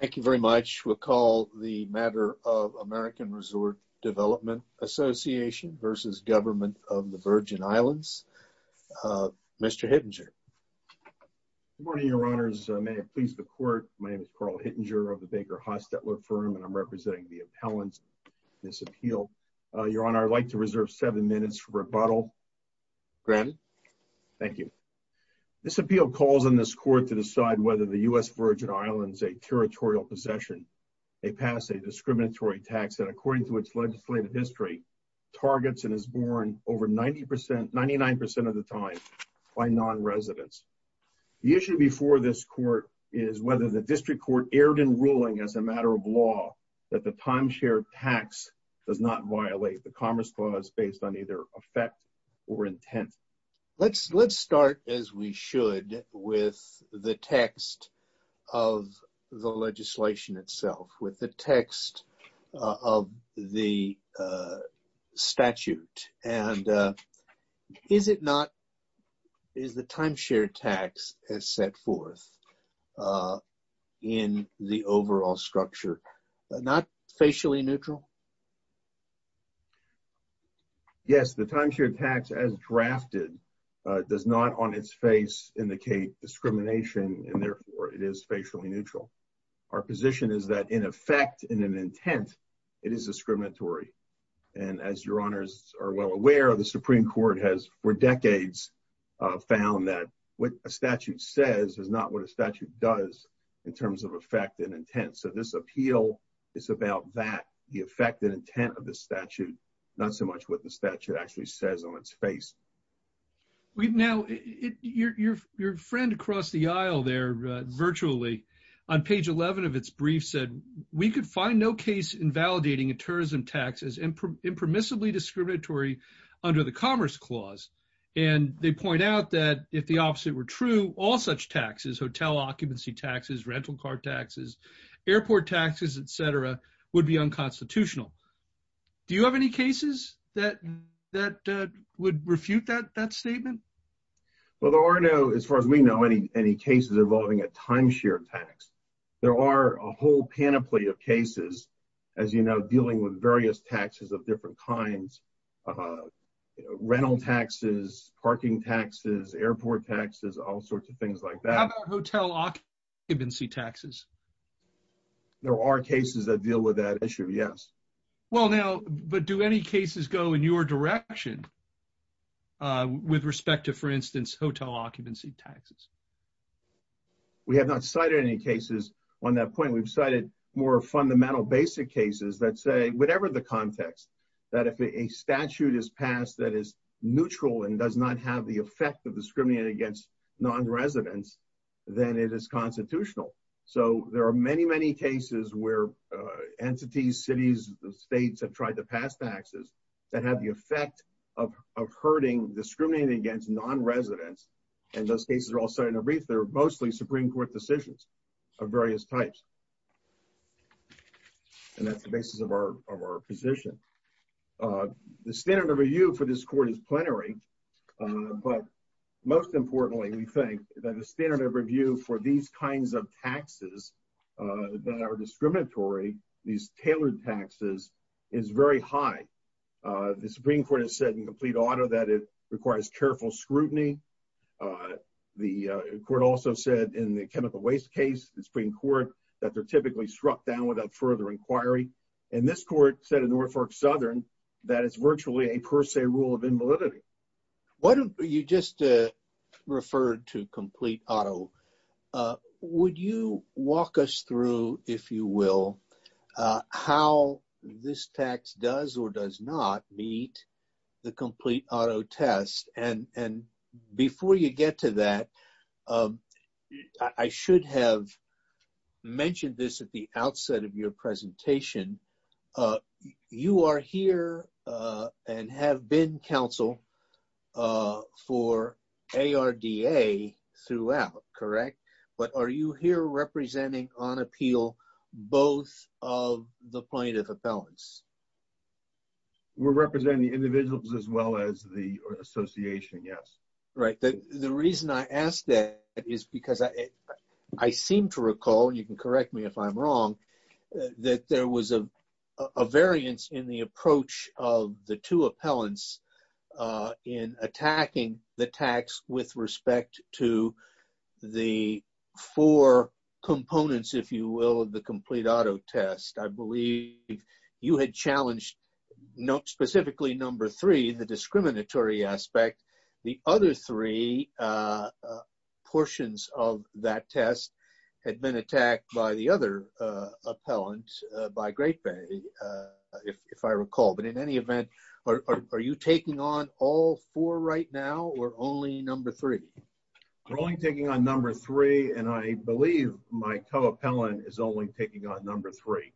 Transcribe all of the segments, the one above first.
Thank you very much. We'll call the matter of American Resort Development Association v. Government of the Virgin Islands. Mr. Hittinger. Good morning, Your Honors. May it please the Court, my name is Carl Hittinger of the Baker Hostetler Firm, and I'm representing the appellants in this appeal. Your Honor, I'd like to reserve seven minutes for rebuttal. Granted. Thank you. This appeal calls on this Court to decide whether the U.S. Virgin Islands a territorial possession. They pass a discriminatory tax that, according to its legislative history, targets and is borne over 99% of the time by non-residents. The issue before this Court is whether the District Court erred in ruling as a matter of law that the timeshare tax does not violate the Commerce Clause based on either effect or intent. Let's start, as we should, with the text of the legislation itself, with the text of the statute. Is the timeshare tax as set forth in the overall structure not facially neutral? Yes, the timeshare tax, as drafted, does not on its face indicate discrimination, and therefore, it is facially neutral. Our position is that, in effect and in intent, it is discriminatory. And as Your Honors are well aware, the Supreme Court has, for decades, found that what a statute says is not what a statute does in terms of effect and intent. So this appeal is about that, the effect and intent of the statute, not so much what the statute actually says on its face. Now, your friend across the aisle there, virtually, on page 11 of its brief said, we could find no case invalidating a tourism tax as impermissibly discriminatory under the Commerce Clause. And they point out that, if the opposite were true, all such taxes, hotel occupancy taxes, rental car taxes, airport taxes, etc., would be unconstitutional. Do you have any cases that would refute that statement? Well, there are no, as far as we know, any cases involving a timeshare tax. There are a whole panoply of cases, as you know, dealing with various taxes of different kinds, rental taxes, parking taxes, airport taxes, all sorts of things like that. How about hotel occupancy taxes? There are cases that deal with that issue, yes. Well, now, but do any cases go in your direction with respect to, for instance, hotel occupancy taxes? We have not cited any cases on that point. We've cited more fundamental, basic cases that say, whatever the context, that if a statute is passed that is neutral and does not have the effect of discriminating against non-residents, then it is constitutional. So there are many, many cases where entities, cities, states have tried to pass taxes that have the effect of hurting, discriminating against non-residents, and those cases are all cited in a brief. They're mostly Supreme Court decisions of various types. And that's the basis of our position. The standard of review for this Court is plenary, but most importantly, we think that the standard of review for these kinds of taxes that are discriminatory, these tailored taxes, is very high. The Supreme Court has said in complete order that it requires careful scrutiny. The Court also said in the chemical waste case, the Supreme Court, that they're typically struck down without further inquiry. And this Court said in Norfolk Southern that it's virtually a per se rule of invalidity. Why don't you just refer to complete auto? Would you walk us through, if you will, how this tax does or does not meet the complete auto test? And before you get to that, I should have mentioned this at the outset of your presentation. You are here and have been counsel for ARDA throughout, correct? But are you here representing on appeal both of the plaintiff appellants? We're representing individuals as well as the association, yes. Right. The reason I ask that is because I seem to recall, and you can correct me if I'm wrong, that there was a variance in the approach of the two appellants in attacking the tax with respect to the four components, if you will, of the complete auto test. I believe you had challenged specifically number three, the discriminatory aspect. The other three portions of that test had been attacked by the other appellant, by Great Bay, if I recall. But in any event, are you taking on all four right now or only number three? We're only taking on number three, and I believe my co-appellant is only taking on number three.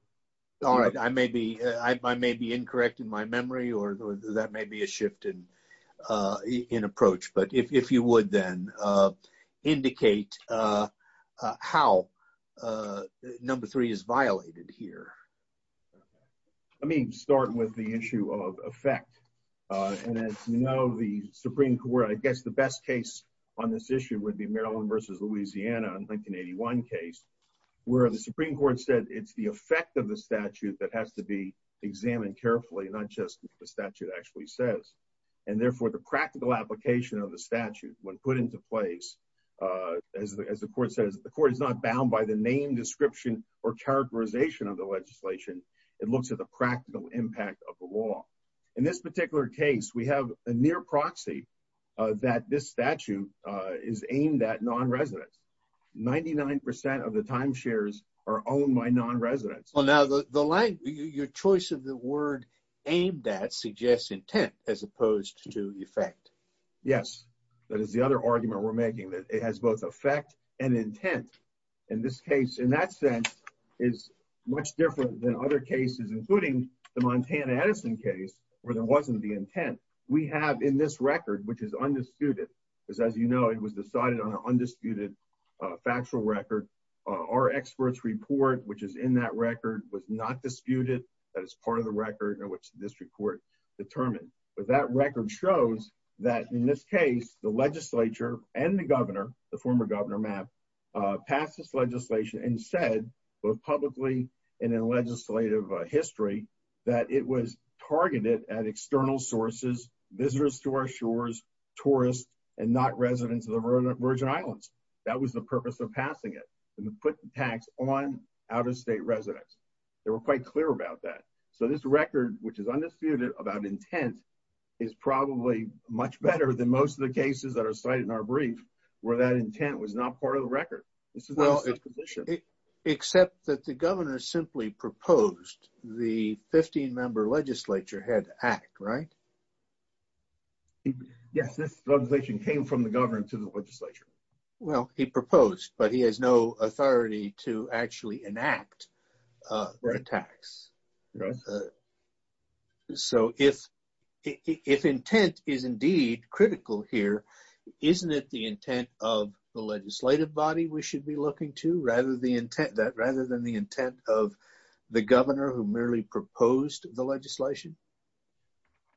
All right. I may be incorrect in my memory, or that may be a shift in approach. But if you would then indicate how number three is violated here. Let me start with the issue of effect. And as you know, the Supreme Court, I guess the best case on this issue would be Maryland versus Louisiana in the 1981 case, where the Supreme Court said it's the effect of the statute that has to be examined carefully, not just what the statute actually says. And therefore, the practical application of the statute when put into place, as the court says, the court is not bound by the name, description, or characterization of the legislation. It looks at the practical impact of the law. In this particular case, we have a near proxy that this statute is aimed at non-residents. Ninety-nine percent of the timeshares are owned by non-residents. Well, now, your choice of the word aimed at suggests intent as opposed to effect. Yes. That is the other argument we're making, that it has both effect and intent. In this case, in that sense, is much different than other cases, including the Montana Edison case, where there wasn't the intent. We have in this record, which is undisputed, because as you know, it was decided on an undisputed factual record. Our expert's report, which is in that record, was not disputed. That is part of the record in which the district court determined. But that record shows that in this case, the legislature and the governor, the former governor Mapp, passed this legislation and said, both publicly and in legislative history, that it was targeted at external sources, visitors to our shores, tourists, and not residents of the Virgin Islands. That was the purpose of passing it, to put the tax on out-of-state residents. They were quite clear about that. So this record, which is undisputed about intent, is probably much better than most of the cases that are cited in our brief, where that intent was not part of the act, right? Yes, this legislation came from the government to the legislature. Well, he proposed, but he has no authority to actually enact the tax. So if intent is indeed critical here, isn't it the intent of the legislative body we should be looking to, rather than the intent of the governor who merely proposed the legislation?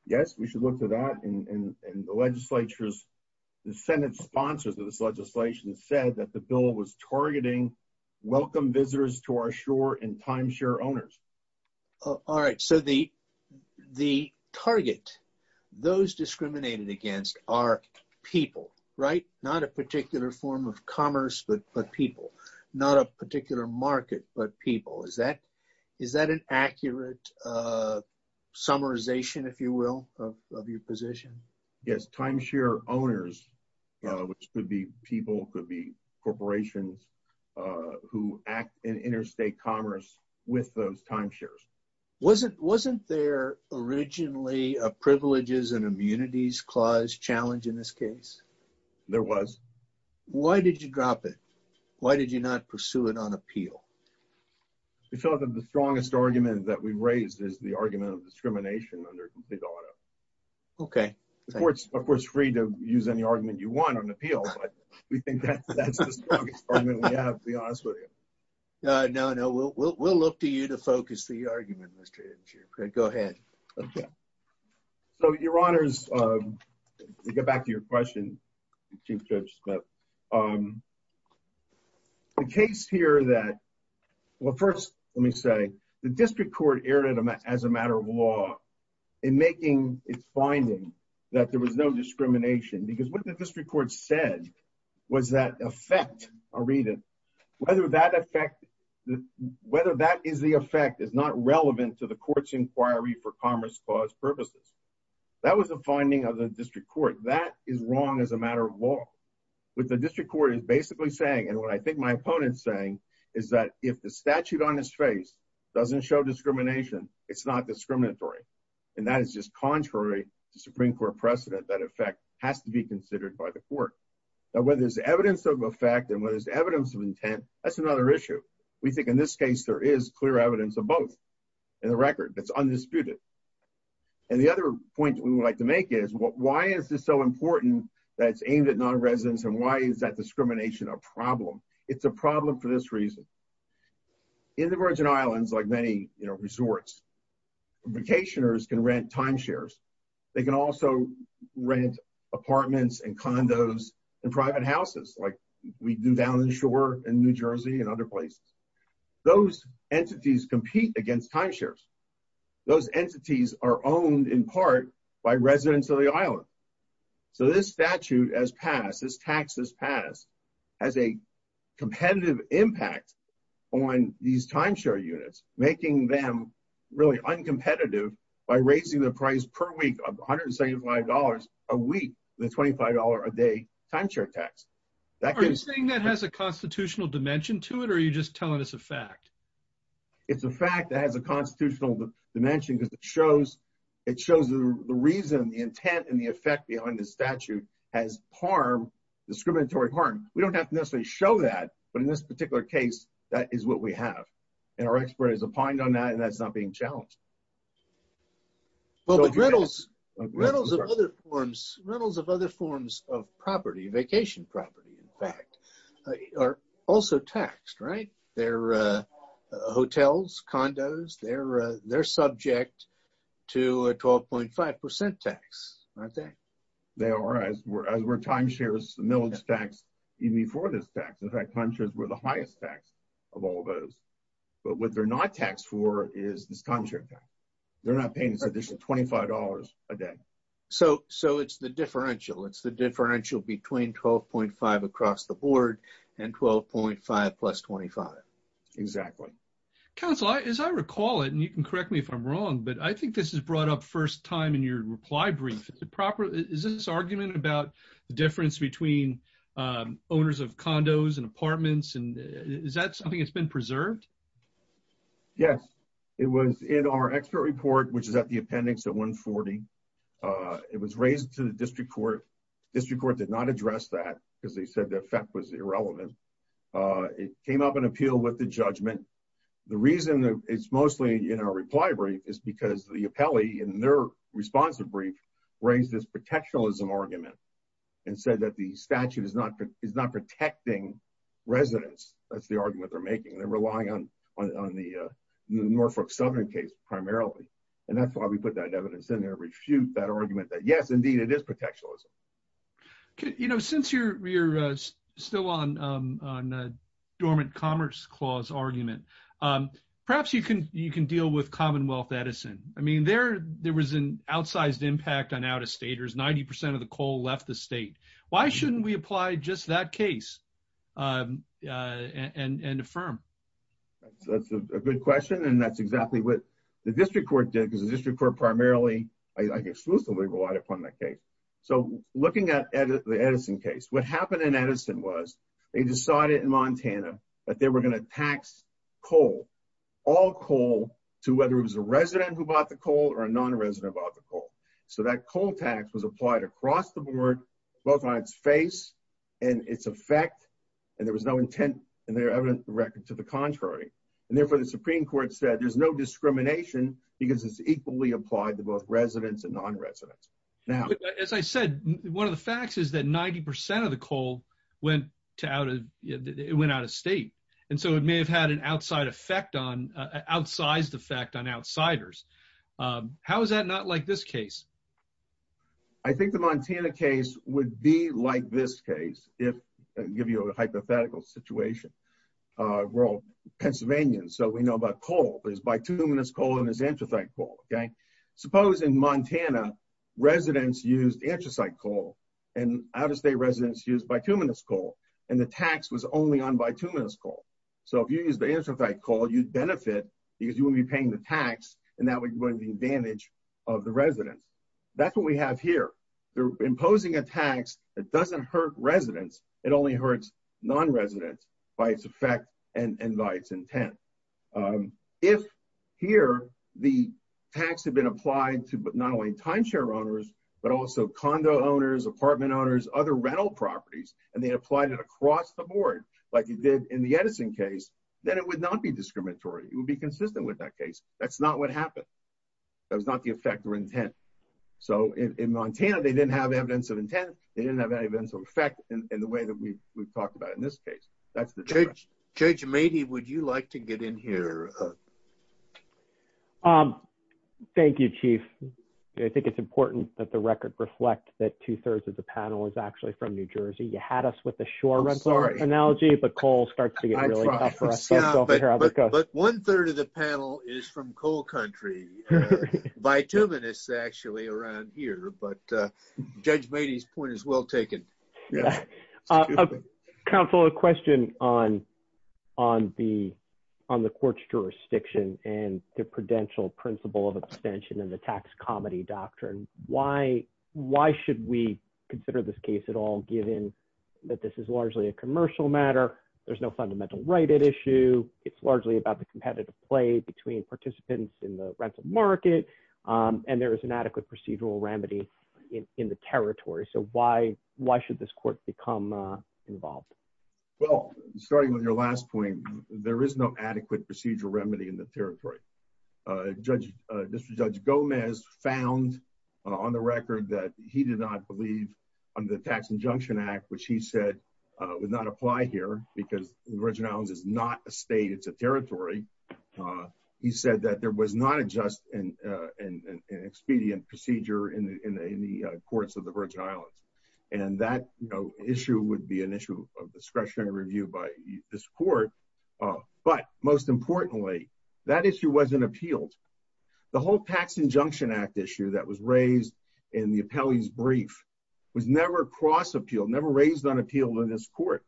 Yes, we should look to that. And the legislature's, the Senate sponsors of this legislation said that the bill was targeting welcome visitors to our shore and timeshare owners. All right. So the target, those discriminated against are people, right? Not a particular form of commerce, but people. Not a particular market, but people. Is that an accurate summarization, if you will, of your position? Yes, timeshare owners, which could be people, could be corporations who act in interstate commerce with those timeshares. Wasn't there originally a privileges and immunities clause challenge in this case? There was. Why did you drop it? Why did you not pursue it on appeal? We felt that the strongest argument that we've raised is the argument of discrimination under Big Auto. Okay. Of course, free to use any argument you want on appeal, but we think that's the strongest argument we have, to be honest with you. No, no. We'll look to you to focus the argument, Mr. Edensheer. Go ahead. So your honors, to get back to your question, Chief Judge Smith, the case here that, well, first let me say the district court erred as a matter of law in making its finding that there was no discrimination, because what the district court said was that effect, I'll read it, whether that effect, whether that is the effect is not relevant to the court's inquiry for commerce clause purposes. That was a finding of the district court. That is wrong as a matter of law. What the district court is basically saying, and what I think my opponent's saying, is that if the statute on his face doesn't show discrimination, it's not discriminatory. And that is just contrary to Supreme Court precedent. That effect has to be considered by the court. Now, whether there's evidence of effect and whether there's evidence of intent, that's another issue. We think in this case, there is clear evidence of both in the record. That's undisputed. And the other point we would like to make is why is this so important that it's aimed at non-residents and why is that discrimination a problem? It's a problem for this reason. In the Virgin Islands, like many, you know, resorts, vacationers can rent timeshares. They can also rent apartments and condos and private houses like we do down in the shore in New Jersey and other places. Those entities compete against timeshares. Those entities are as taxed as passed, has a competitive impact on these timeshare units, making them really uncompetitive by raising the price per week of $175 a week, the $25 a day timeshare tax. Are you saying that has a constitutional dimension to it or are you just telling us a fact? It's a fact that has a constitutional dimension because it shows the reason, the intent, and the effect behind the statute has harm, discriminatory harm. We don't have to necessarily show that, but in this particular case, that is what we have. And our expert is opined on that and that's not being challenged. But rentals of other forms of property, vacation property, in fact, are also taxed, right? Hotels, condos, they're subject to a 12.5% tax, aren't they? They are, as were timeshares, the millage tax, even before this tax. In fact, timeshares were the highest tax of all those. But what they're not taxed for is this timeshare tax. They're not paying this additional $25 a day. So it's the differential. It's the differential between 12.5 across the board and 12.5 plus 25. Exactly. Counselor, as I recall it, and you can correct me if I'm wrong, but I think this is brought up first time in your reply brief. Is this argument about the difference between owners of condos and apartments and is that something that's been preserved? Yes. It was in our expert report, which is at the appendix at 140. It was raised to the district court. District court did not address that because they said the effect was irrelevant. It came up in appeal with the judgment. The reason it's mostly in our reply brief is because the appellee in their responsive brief raised this protectionism argument and said that the statute is not protecting residents. That's the argument they're making. They're relying on the Norfolk Southern case primarily. And that's why we put that evidence in there, refute that argument that yes, indeed, it is protectionism. Since you're still on the dormant commerce clause argument, perhaps you can deal with Commonwealth Edison. I mean, there was an outsized impact on out-of-staters. 90% of the coal left the state. Why shouldn't we apply just that case and affirm? That's a good question. And that's exactly what the district court did, I exclusively relied upon that case. So looking at the Edison case, what happened in Edison was they decided in Montana that they were going to tax coal, all coal, to whether it was a resident who bought the coal or a non-resident who bought the coal. So that coal tax was applied across the board, both on its face and its effect, and there was no intent in their evidence to the contrary. And therefore, the Supreme Court said there's no discrimination because it's equally applied to both residents and non-residents. Now, as I said, one of the facts is that 90% of the coal went to out of, it went out of state. And so it may have had an outside effect on, outsized effect on outsiders. How is that not like this case? I think the Montana case would be like this case, if I give you a hypothetical situation. We're all Pennsylvanians, so we know about coal, there's bituminous coal and there's anthracite coal, okay? Suppose in Montana, residents used anthracite coal and out-of-state residents used bituminous coal, and the tax was only on bituminous coal. So if you use the anthracite coal, you'd benefit because you wouldn't be paying the tax and that would be going to the advantage of the residents. That's what we have here. They're imposing a tax that doesn't hurt residents, it only hurts non-residents by its effect and by its intent. If here, the tax had been applied to not only timeshare owners, but also condo owners, apartment owners, other rental properties, and they applied it across the board, like you did in the Edison case, then it would not be discriminatory. It would be consistent with that case. That's not what happened. That was not the effect or intent. So in Montana, they didn't have evidence of intent, they didn't have any events of effect in the way that we've talked about in this case. Judge Mady, would you like to get in here? Thank you, Chief. I think it's important that the record reflect that two-thirds of the panel is actually from New Jersey. You had us with the shore rental analogy, but coal starts to get really tough for us. But one-third of the panel is from coal country. Bituminous, actually, around here, but Judge Mady's point is well taken. Counsel, a question on the court's jurisdiction and the prudential principle of abstention and the tax comedy doctrine. Why should we consider this case at all, given that this is largely a commercial matter, there's no fundamental right at issue, it's largely about the competitive play between participants in the rental market, and there is an adequate procedural remedy in the territory. So why should this court become involved? Well, starting with your last point, there is no adequate procedural remedy in the territory. District Judge Gomez found on the record that he did not believe under the Tax Injunction Act, which he said would not apply here, because the Virgin Islands is not a state, it's a territory. He said that there was not a just and expedient procedure in the courts of the Virgin Islands. And that issue would be an issue of discretionary review by this court. But most importantly, that issue wasn't appealed. The whole Tax Injunction Act issue that was raised in the appellee's brief was never cross-appealed, never raised on appeal in this court.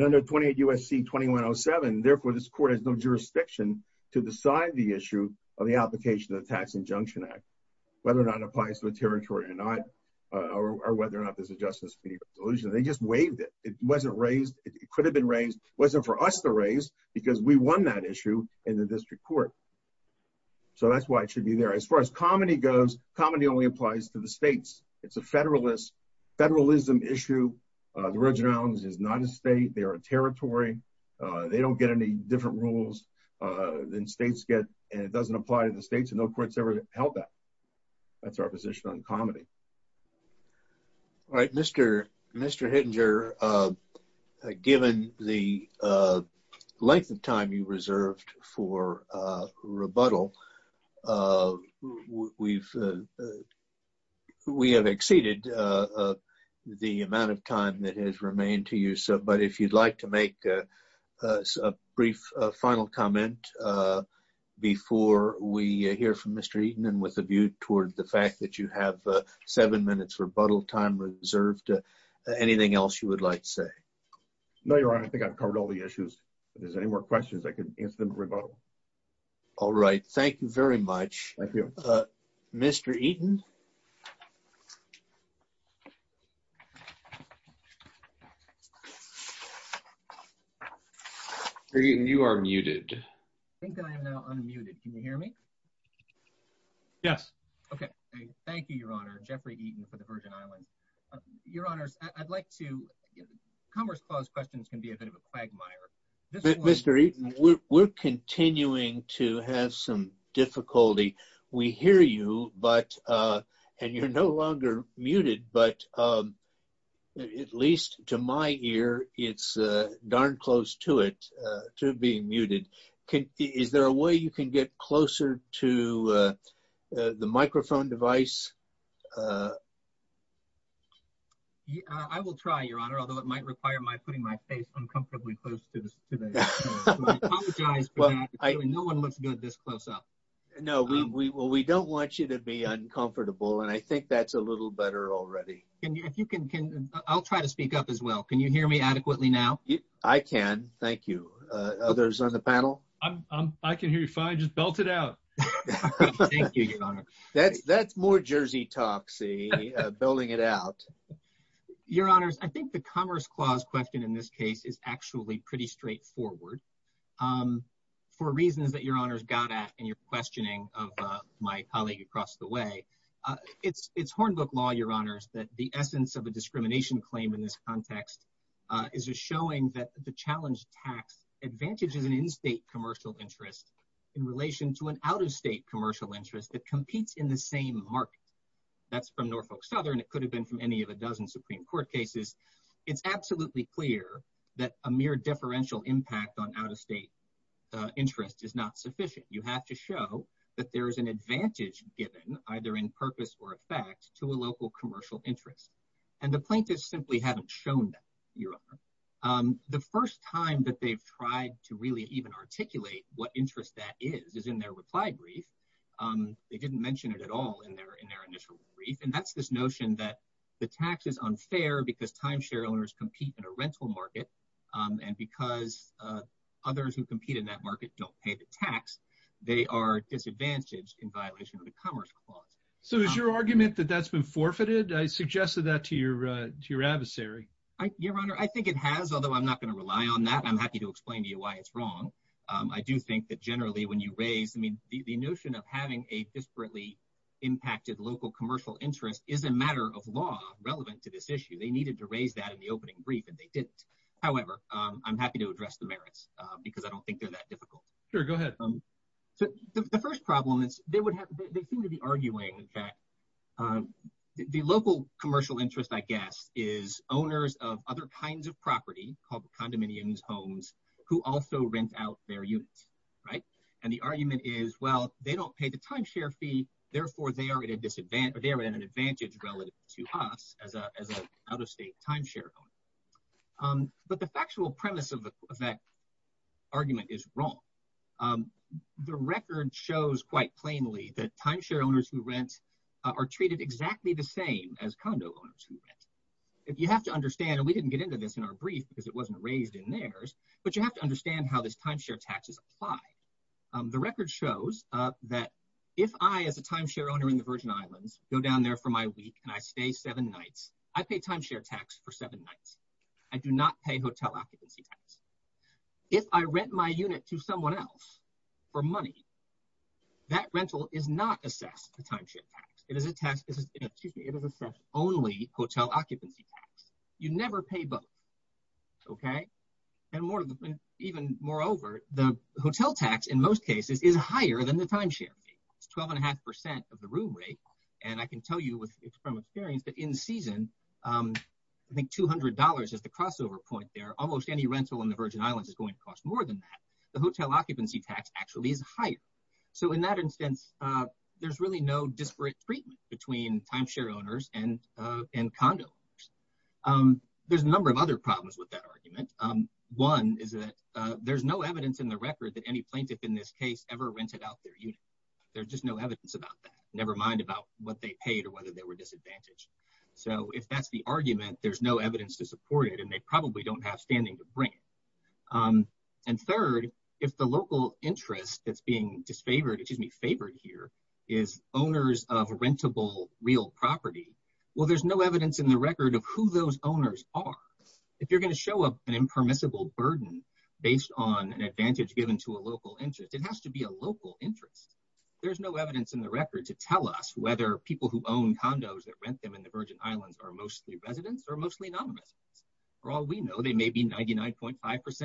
Under 28 U.S.C. 2107, therefore, this court has no jurisdiction to decide the issue of the application of the Tax Injunction Act, whether or not it applies to the territory or not, or whether or not there's a just and expedient resolution. They just waived it. It wasn't raised, it could have been raised, wasn't for us to raise, because we won that issue in the district court. So that's why it should be there. As far as comity goes, comity only applies to the states. It's a federalist, issue. The Virgin Islands is not a state, they are a territory. They don't get any different rules than states get, and it doesn't apply to the states, and no court's ever held that. That's our position on comity. All right, Mr. Hittinger, given the length of time you reserved for rebuttal, we have exceeded the amount of time that has remained to you. But if you'd like to make a brief final comment before we hear from Mr. Eaton, and with a view toward the fact that you have seven minutes rebuttal time reserved, anything else you would like to say? No, Your Honor, I think I've covered all the issues. If there's any more questions, I can answer them in rebuttal. All right, thank you very much. Mr. Eaton? Mr. Eaton, you are muted. I think I am now unmuted. Can you hear me? Yes. Okay, thank you, Your Honor. Jeffrey Eaton for the Virgin Islands. Your Honors, I'd like to... Commerce Clause questions can be a bit of a quagmire. Mr. Eaton, we're continuing to have some difficulty. We hear you, and you're no longer muted, but at least to my ear, it's darn close to it, to being muted. Is there a way you can get closer to the microphone device? I will try, Your Honor, although it might require my putting my face uncomfortably close to the screen. I apologize for that. No one looks good this close up. No, we don't want you to be uncomfortable, and I think that's a little better already. Can you, if you can, I'll try to speak up as well. Can you hear me adequately now? I can, thank you. Others on the panel? I can hear you fine. Just belt it out. Thank you, Your Honor. That's more Jersey talk, see, belting it out. Your Honors, I think the Commerce Clause question in this case is actually pretty straightforward for reasons that Your Honors got at in your questioning of my colleague across the way. It's hornbook law, Your Honors, that the essence of a discrimination claim in this context is just showing that the challenge tax advantages an in-state commercial interest in relation to an out-of-state commercial interest that competes in the same market. That's from Norfolk Southern. It could have been from any of a dozen Supreme Court cases. It's absolutely clear that a mere deferential impact on out-of-state interest is not sufficient. You have to show that there is an advantage given, either in purpose or effect, to a local commercial interest. And the plaintiffs simply haven't shown that, Your Honor. The first time that they've tried to really even articulate what interest that is, is in their reply brief. They didn't mention it at all in their initial brief. And that's this notion that the tax is unfair because timeshare owners compete in a rental market. And because others who compete in that market don't pay the tax, they are disadvantaged in violation of the Commerce Clause. So is your argument that that's been forfeited? I suggested that to your adversary. Your Honor, I think it has, although I'm not going to rely on that. I'm happy to explain to you why it's wrong. I do think that generally when you raise, I mean, the notion of having a disparately impacted local commercial interest is a matter of law relevant to this issue. They needed to raise that in the opening brief, and they didn't. However, I'm happy to address the merits because I don't think they're that difficult. Sure, go ahead. So the first problem is they seem to be arguing that the local commercial interest, is owners of other kinds of property called condominiums, homes, who also rent out their units, right? And the argument is, well, they don't pay the timeshare fee. Therefore, they are at an advantage relative to us as an out-of-state timeshare owner. But the factual premise of that argument is wrong. The record shows quite plainly that timeshare owners who rent are treated exactly the same as condo owners who rent. You have to understand, and we didn't get into this in our brief because it wasn't raised in theirs, but you have to understand how this timeshare taxes apply. The record shows that if I, as a timeshare owner in the Virgin Islands, go down there for my week and I stay seven nights, I pay timeshare tax for seven nights. I do not pay hotel occupancy tax. If I rent my unit to someone else for money, that rental is not assessed as a timeshare tax. It is assessed only hotel occupancy tax. You never pay both, okay? And even moreover, the hotel tax in most cases is higher than the timeshare fee. It's 12.5% of the room rate. And I can tell you from experience that in season, I think $200 is the crossover point there. Almost any rental in the Virgin Islands is going to cost more than that. The hotel occupancy tax actually is higher. So in that instance, there's really no disparate treatment between timeshare owners and condo. There's a number of other problems with that argument. One is that there's no evidence in the record that any plaintiff in this case ever rented out their unit. There's just no evidence about that, nevermind about what they paid or whether they were disadvantaged. So if that's the argument, there's no evidence to support it, and they probably don't have standing to bring it. And third, if the local interest that's being disfavored, excuse me, favored here is owners of rentable real property, well, there's no evidence in the record of who those owners are. If you're going to show up an impermissible burden based on an advantage given to a local interest, it has to be a local interest. There's no evidence in the record to tell us whether people who own condos that rent them in the Virgin Islands are mostly residents or mostly non-residents. For all we know, they may be 99.5%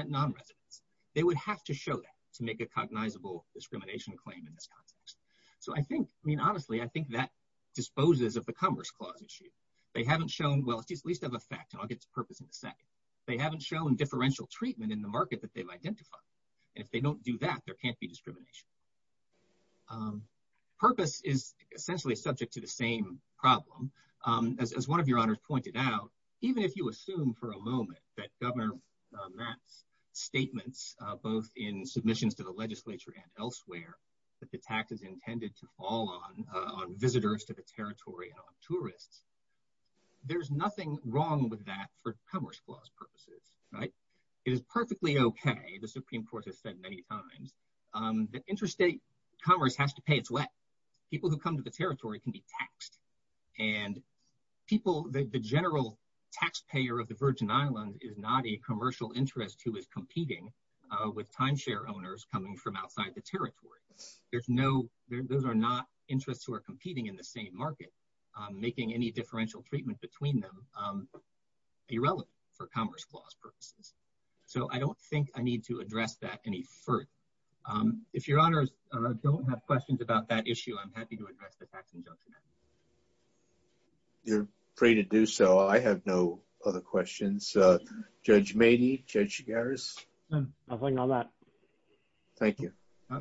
non-residents. They would have to show that to make a cognizable discrimination claim in this context. So I think, I mean, honestly, I think that disposes of the Commerce Clause issue. They haven't shown, well, at least of effect, and I'll get to purpose in a second. They haven't shown differential treatment in the market that they've identified. And if they don't do that, there can't be discrimination. Purpose is essentially subject to the same problem. As one of your honors pointed out, even if you assume for a moment that Governor Matt's statements, both in submissions to the legislature and elsewhere, that the tax is intended to fall on visitors to the territory and on tourists, there's nothing wrong with that for Commerce Clause purposes, right? It is perfectly okay, the Supreme Court has said many times, that interstate commerce has to pay its way. People who come to the territory can be taxed. And people, the general taxpayer of the Virgin Islands is not a commercial interest who is competing with timeshare owners coming from outside the territory. There's no, those are not interests who are competing in the same market, making any differential treatment between them irrelevant for Commerce Clause purposes. So I don't think I need to address that any further. If your honors don't have questions about that issue, I'm happy to address the Tax Injunction Act. You're free to do so. I have no other questions. Judge Maney, Judge Chigares? Nothing on that. Thank you.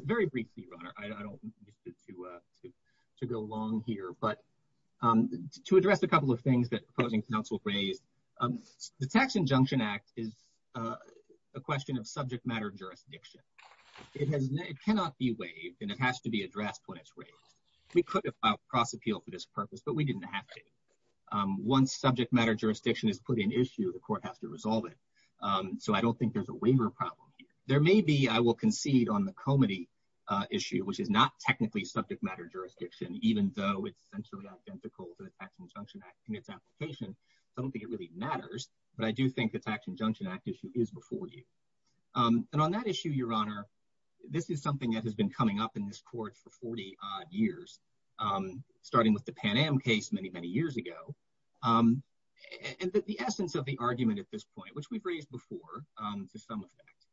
Very briefly, your honor. I don't want to go long here. But to address a couple of things that opposing counsel raised, the Tax Injunction Act is a question of subject matter jurisdiction. It has, it cannot be waived, and it has to be addressed when it's raised. We could have filed cross appeal for this purpose, but we didn't have to. Once subject matter jurisdiction is put in issue, the court has to resolve it. So I don't think there's a waiver problem. There may be, I will concede on the comity issue, which is not technically subject matter jurisdiction, even though it's essentially identical to the Tax Injunction Act in its application. So I don't think it really matters. But I do think the Tax Injunction Act issue is before you. And on that issue, your honor, this is something that has been coming up in this court for 40 odd years, starting with the Pan Am case many, many years ago. And the essence of the argument at this point, which we've raised before, to some effect,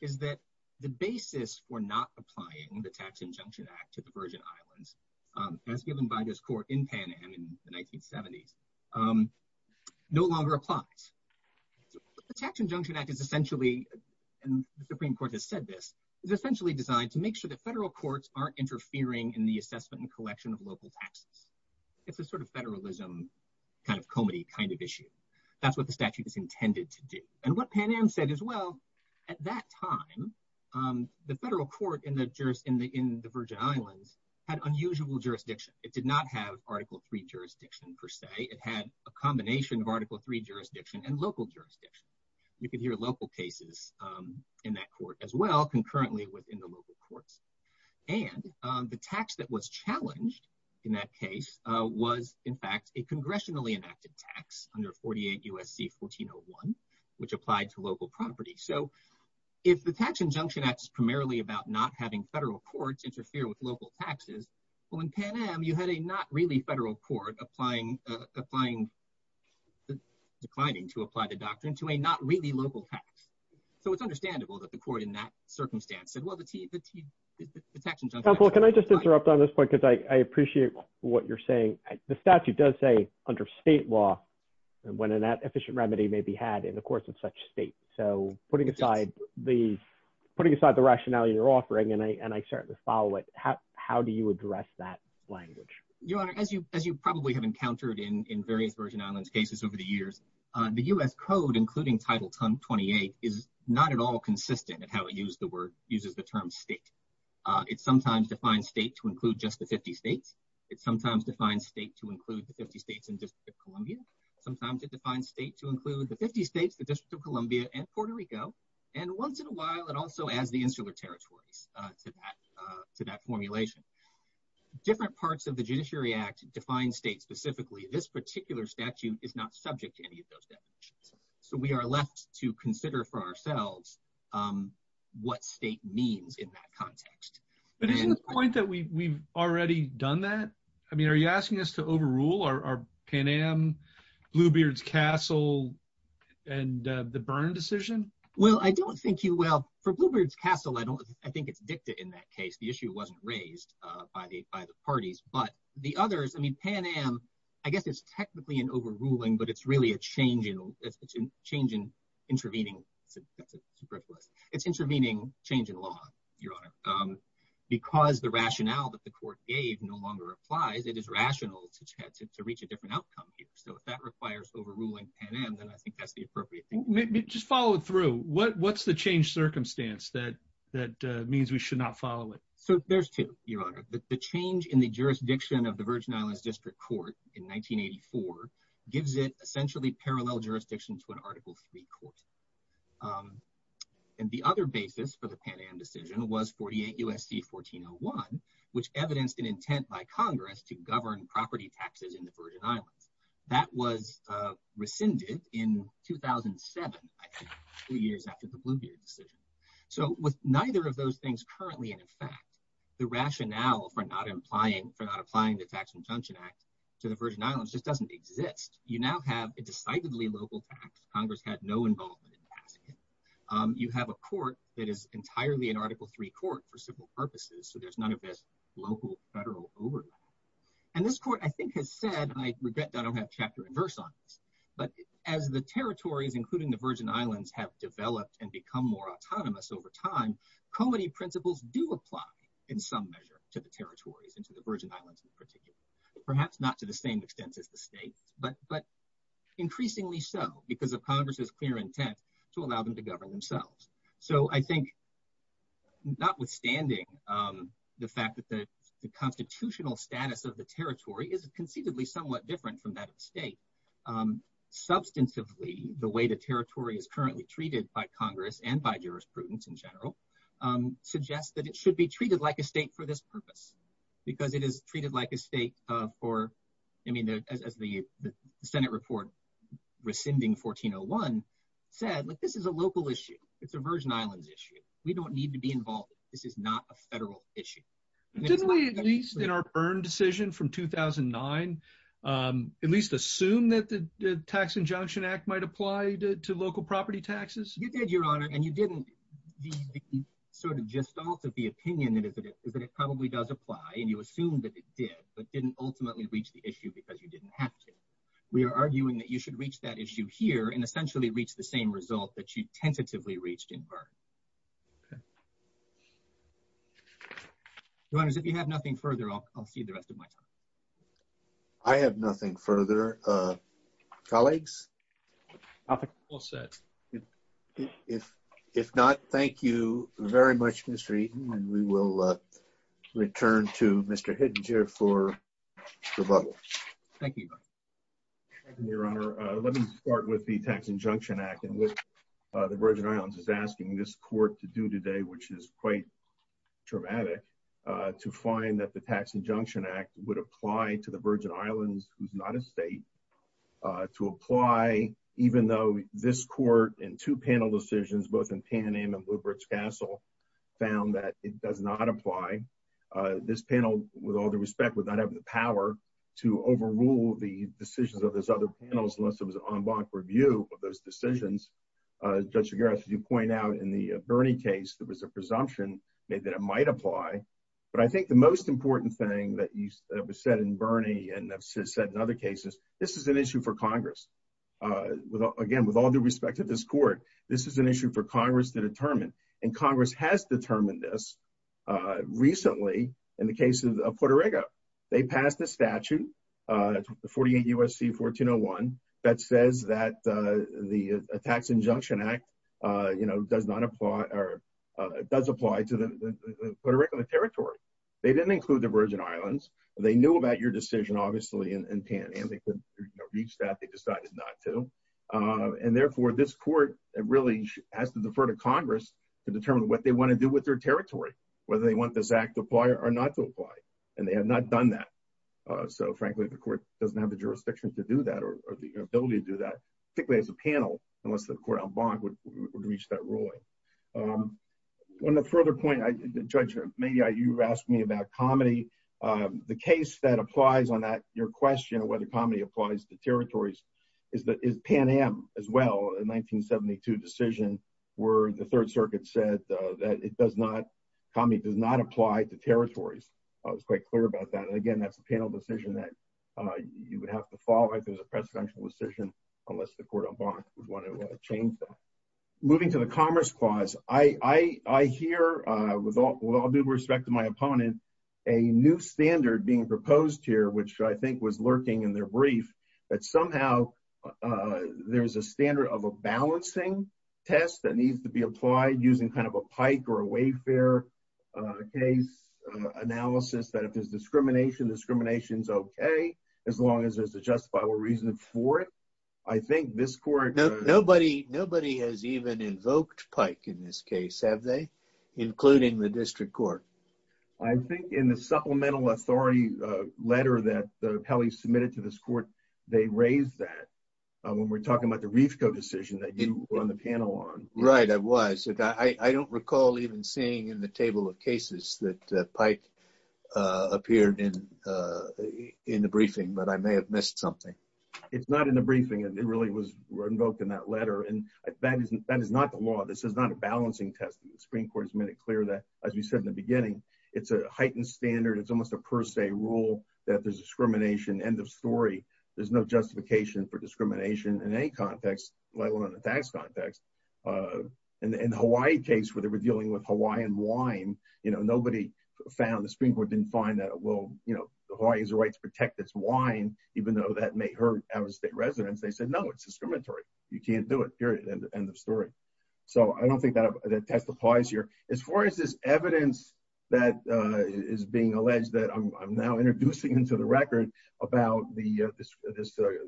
is that the basis for not applying the Tax Injunction Act to the Virgin Islands, as given by this court in Pan Am in the 1970s, no longer applies. The Tax Injunction Act is essentially, and the Supreme Court has said this, is essentially designed to make sure that federal courts aren't interfering in the assessment and collection of local taxes. It's a sort of federalism, kind of comity kind of issue. That's what the statute is intended to do. And what Pan Am said as well, at that time, the federal court in the Virgin Islands had unusual jurisdiction. It did not have Article III jurisdiction, per se. It had a combination of Article III jurisdiction and local jurisdiction. You could hear local cases in that court as well, concurrently within the local courts. And the tax that was challenged in that case was, in fact, a congressionally enacted tax under 48 U.S.C. 1401, which applied to local property. So, if the Tax Injunction Act is primarily about not having federal courts interfere with local taxes, well, in Pan Am, you had a not really federal court applying, declining to apply the doctrine to a not really local tax. So, it's understandable that the court in that circumstance said, well, the Tax Injunction Act... Counselor, can I just interrupt on this point? Because I appreciate what you're saying. The when an efficient remedy may be had in the course of such state. So, putting aside the rationale you're offering, and I certainly follow it, how do you address that language? Your Honor, as you probably have encountered in various Virgin Islands cases over the years, the U.S. Code, including Title 28, is not at all consistent in how it uses the term state. It sometimes defines state to include just the 50 states. It sometimes defines state to include the 50 states, the District of Columbia, and Puerto Rico, and once in a while, it also adds the insular territories to that formulation. Different parts of the Judiciary Act define state specifically. This particular statute is not subject to any of those definitions. So, we are left to consider for ourselves what state means in that context. But isn't the point that we've already done that? I mean, are you asking us to overrule our Pan Am Bluebeards Castle and the Byrne decision? Well, I don't think you will. For Bluebeards Castle, I think it's dicta in that case. The issue wasn't raised by the parties. But the others, I mean, Pan Am, I guess it's technically an overruling, but it's really a change in intervening. That's a superfluous. It's intervening change in law, Your Honor. Because the rationale that the court gave no longer applies, it is rational to reach a different outcome here. So, if that requires overruling Pan Am, then I think that's the appropriate thing. Just follow through. What's the change circumstance that means we should not follow it? So, there's two, Your Honor. The change in the jurisdiction of the Virgin Islands District Court in 1984 gives it essentially parallel jurisdiction to an Article III court. And the other basis for the Pan Am decision was 48 U.S.C. 1401, which evidenced an intent by in the Virgin Islands. That was rescinded in 2007, two years after the Bluebeard decision. So, with neither of those things currently in effect, the rationale for not applying the Tax Conjunction Act to the Virgin Islands just doesn't exist. You now have a decidedly local tax. Congress had no involvement in passing it. You have a court that is entirely an Article III court for civil purposes, so there's none of this local federal overlap. And this court, I think, has said, and I regret that I don't have chapter and verse on this, but as the territories, including the Virgin Islands, have developed and become more autonomous over time, comity principles do apply in some measure to the territories and to the Virgin Islands in particular. Perhaps not to the same extent as the state, but increasingly so because of the fact that the constitutional status of the territory is conceivably somewhat different from that of the state. Substantively, the way the territory is currently treated by Congress and by jurisprudence in general suggests that it should be treated like a state for this purpose because it is treated like a state for, I mean, as the Senate report rescinding 1401 said, like, this is a local issue. It's a Virgin Islands issue. We don't need to be involved. This is not a federal issue. Didn't we, at least in our Byrne decision from 2009, at least assume that the Tax Injunction Act might apply to local property taxes? You did, Your Honor, and you didn't. The sort of gestalt of the opinion is that it probably does apply, and you assume that it did, but didn't ultimately reach the issue because you didn't have to. We are arguing that you should reach that issue here and essentially reach the same result that you tentatively reached in Byrne. Okay. Your Honor, if you have nothing further, I'll see the rest of my time. I have nothing further. Colleagues? I think we're all set. If not, thank you very much, Mr. Eaton, and we will return to Mr. Hittinger for rebuttal. Thank you, Your Honor. Let me start with the Tax Injunction Act in which the Virgin Islands is asking this court to do today, which is quite traumatic, to find that the Tax Injunction Act would apply to the Virgin Islands, who's not a state, to apply even though this court in two panel decisions, both in Pan Am and Bluebridge Castle, found that it does not apply. This panel, with all due respect, would not have the power to overrule the decisions of those other panels unless it was an en banc review of those decisions. Judge Geras, you point out in the Byrne case, there was a presumption that it might apply, but I think the most important thing that was said in Byrne and said in other cases, this is an issue for Congress. Again, with all due respect to this court, this is an issue for Congress to determine, and Congress has determined this recently in the case of Puerto Rico. They passed a statute, 48 U.S.C. 1401, that says that the Tax Injunction Act does apply to the Puerto Rican territory. They didn't include the Virgin Islands. They knew about your decision, obviously, in Pan Am. They could reach that. They decided not to. Therefore, this court really has to defer to Congress to determine what they want to do with their territory, whether they want this act to apply or not to apply, and they have not done that. So, frankly, the court doesn't have the jurisdiction to do that or the ability to do that, particularly as a panel, unless the court en banc would reach that ruling. On a further point, Judge, maybe you asked me about comedy. The case that applies on that, your question of whether comedy applies to territories, is Pan Am as well, a 1972 decision where the Third Circuit said that comedy does not apply to territories. I was quite clear about that. Again, that's a panel decision that you would have to follow if it was a presidential decision, unless the court en banc would want to change that. Moving to the Commerce Clause, I hear, with all due respect to my opponent, a new standard being proposed here, which I think was lurking in their brief, that somehow there's a standard of a balancing test that needs to be applied using kind of a Pike or a Wayfair case analysis, that if there's discrimination, discrimination's okay, as long as there's a justifiable reason for it. I think this court- No, nobody has even invoked Pike in this case, have they, including the district court? I think in the supplemental authority letter that Pelley submitted to this court, they raised that when we're talking about the Reefco decision that you were on the panel on. Right, I was. I don't recall even seeing in the table of cases that Pike appeared in the briefing, but I may have missed something. It's not in the briefing. It really was invoked in that letter, and that is not the law. This is not a balancing test. The Supreme Court made it clear that, as we said in the beginning, it's a heightened standard. It's almost a per se rule that there's discrimination, end of story. There's no justification for discrimination in any context, let alone in the tax context. In the Hawaii case, where they were dealing with Hawaiian wine, nobody found, the Supreme Court didn't find that, well, Hawaii has the right to protect its wine, even though that may hurt out-of-state residents. They said, no, it's discriminatory. You can't do it, period, end of story. So I don't think that testifies here. As far as this evidence that is being alleged that I'm now introducing into the record about this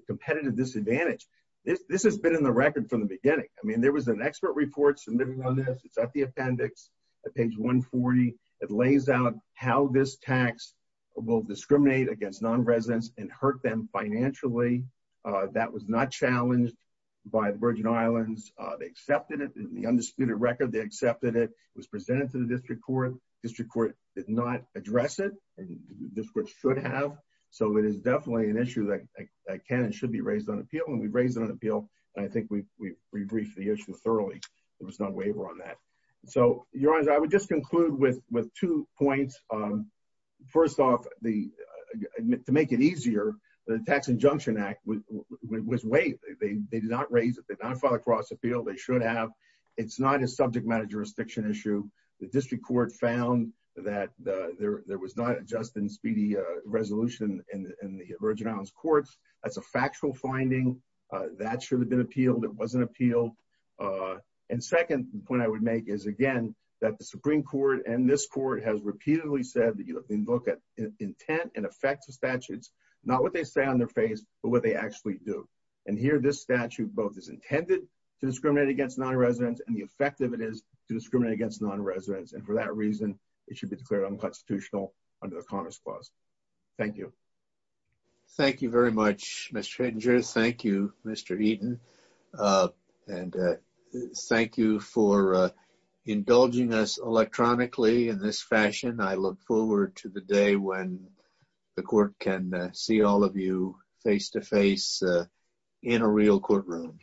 competitive disadvantage, this has been in the record from the beginning. I mean, there was an expert report submitting on this. It's at the appendix at page 140. It lays out how this tax will discriminate against non-residents and hurt them financially. That was not challenged by the Virgin Islands. They accepted it. In the undisputed record, they accepted it. It was presented to the district court. District court did not address it, and this court should have. So it is definitely an issue that can and should be raised on appeal, and we've raised it on appeal, and I think we've re-briefed the issue thoroughly. There was no waiver on that. So, Your Honors, I would just conclude with two points. First off, the—to make it easier, the Tax Injunction Act was waived. They did not raise it. They did not file a cross-appeal. They should have. It's not a subject matter jurisdiction issue. The district court found that there was not a just and speedy resolution in the Virgin Islands courts. That's a factual finding. That should have been appealed. It wasn't appealed. And second point I would make is, again, that the Supreme Court and this court has repeatedly said that you have to look at intent and effects of statutes, not what they say on their face, but what they actually do. And here, this statute both is intended to discriminate against non-residents and the effect of it is to discriminate against non-residents, and for that reason, it should be declared unconstitutional under the Commerce Clause. Thank you. Thank you very much, Mr. Hittinger. Thank you, Mr. Eaton. And thank you for indulging us electronically in this fashion. I look forward to the day when the court can see all of you face-to-face in a real courtroom.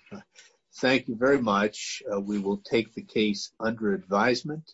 Thank you very much. We will take the case under advisement.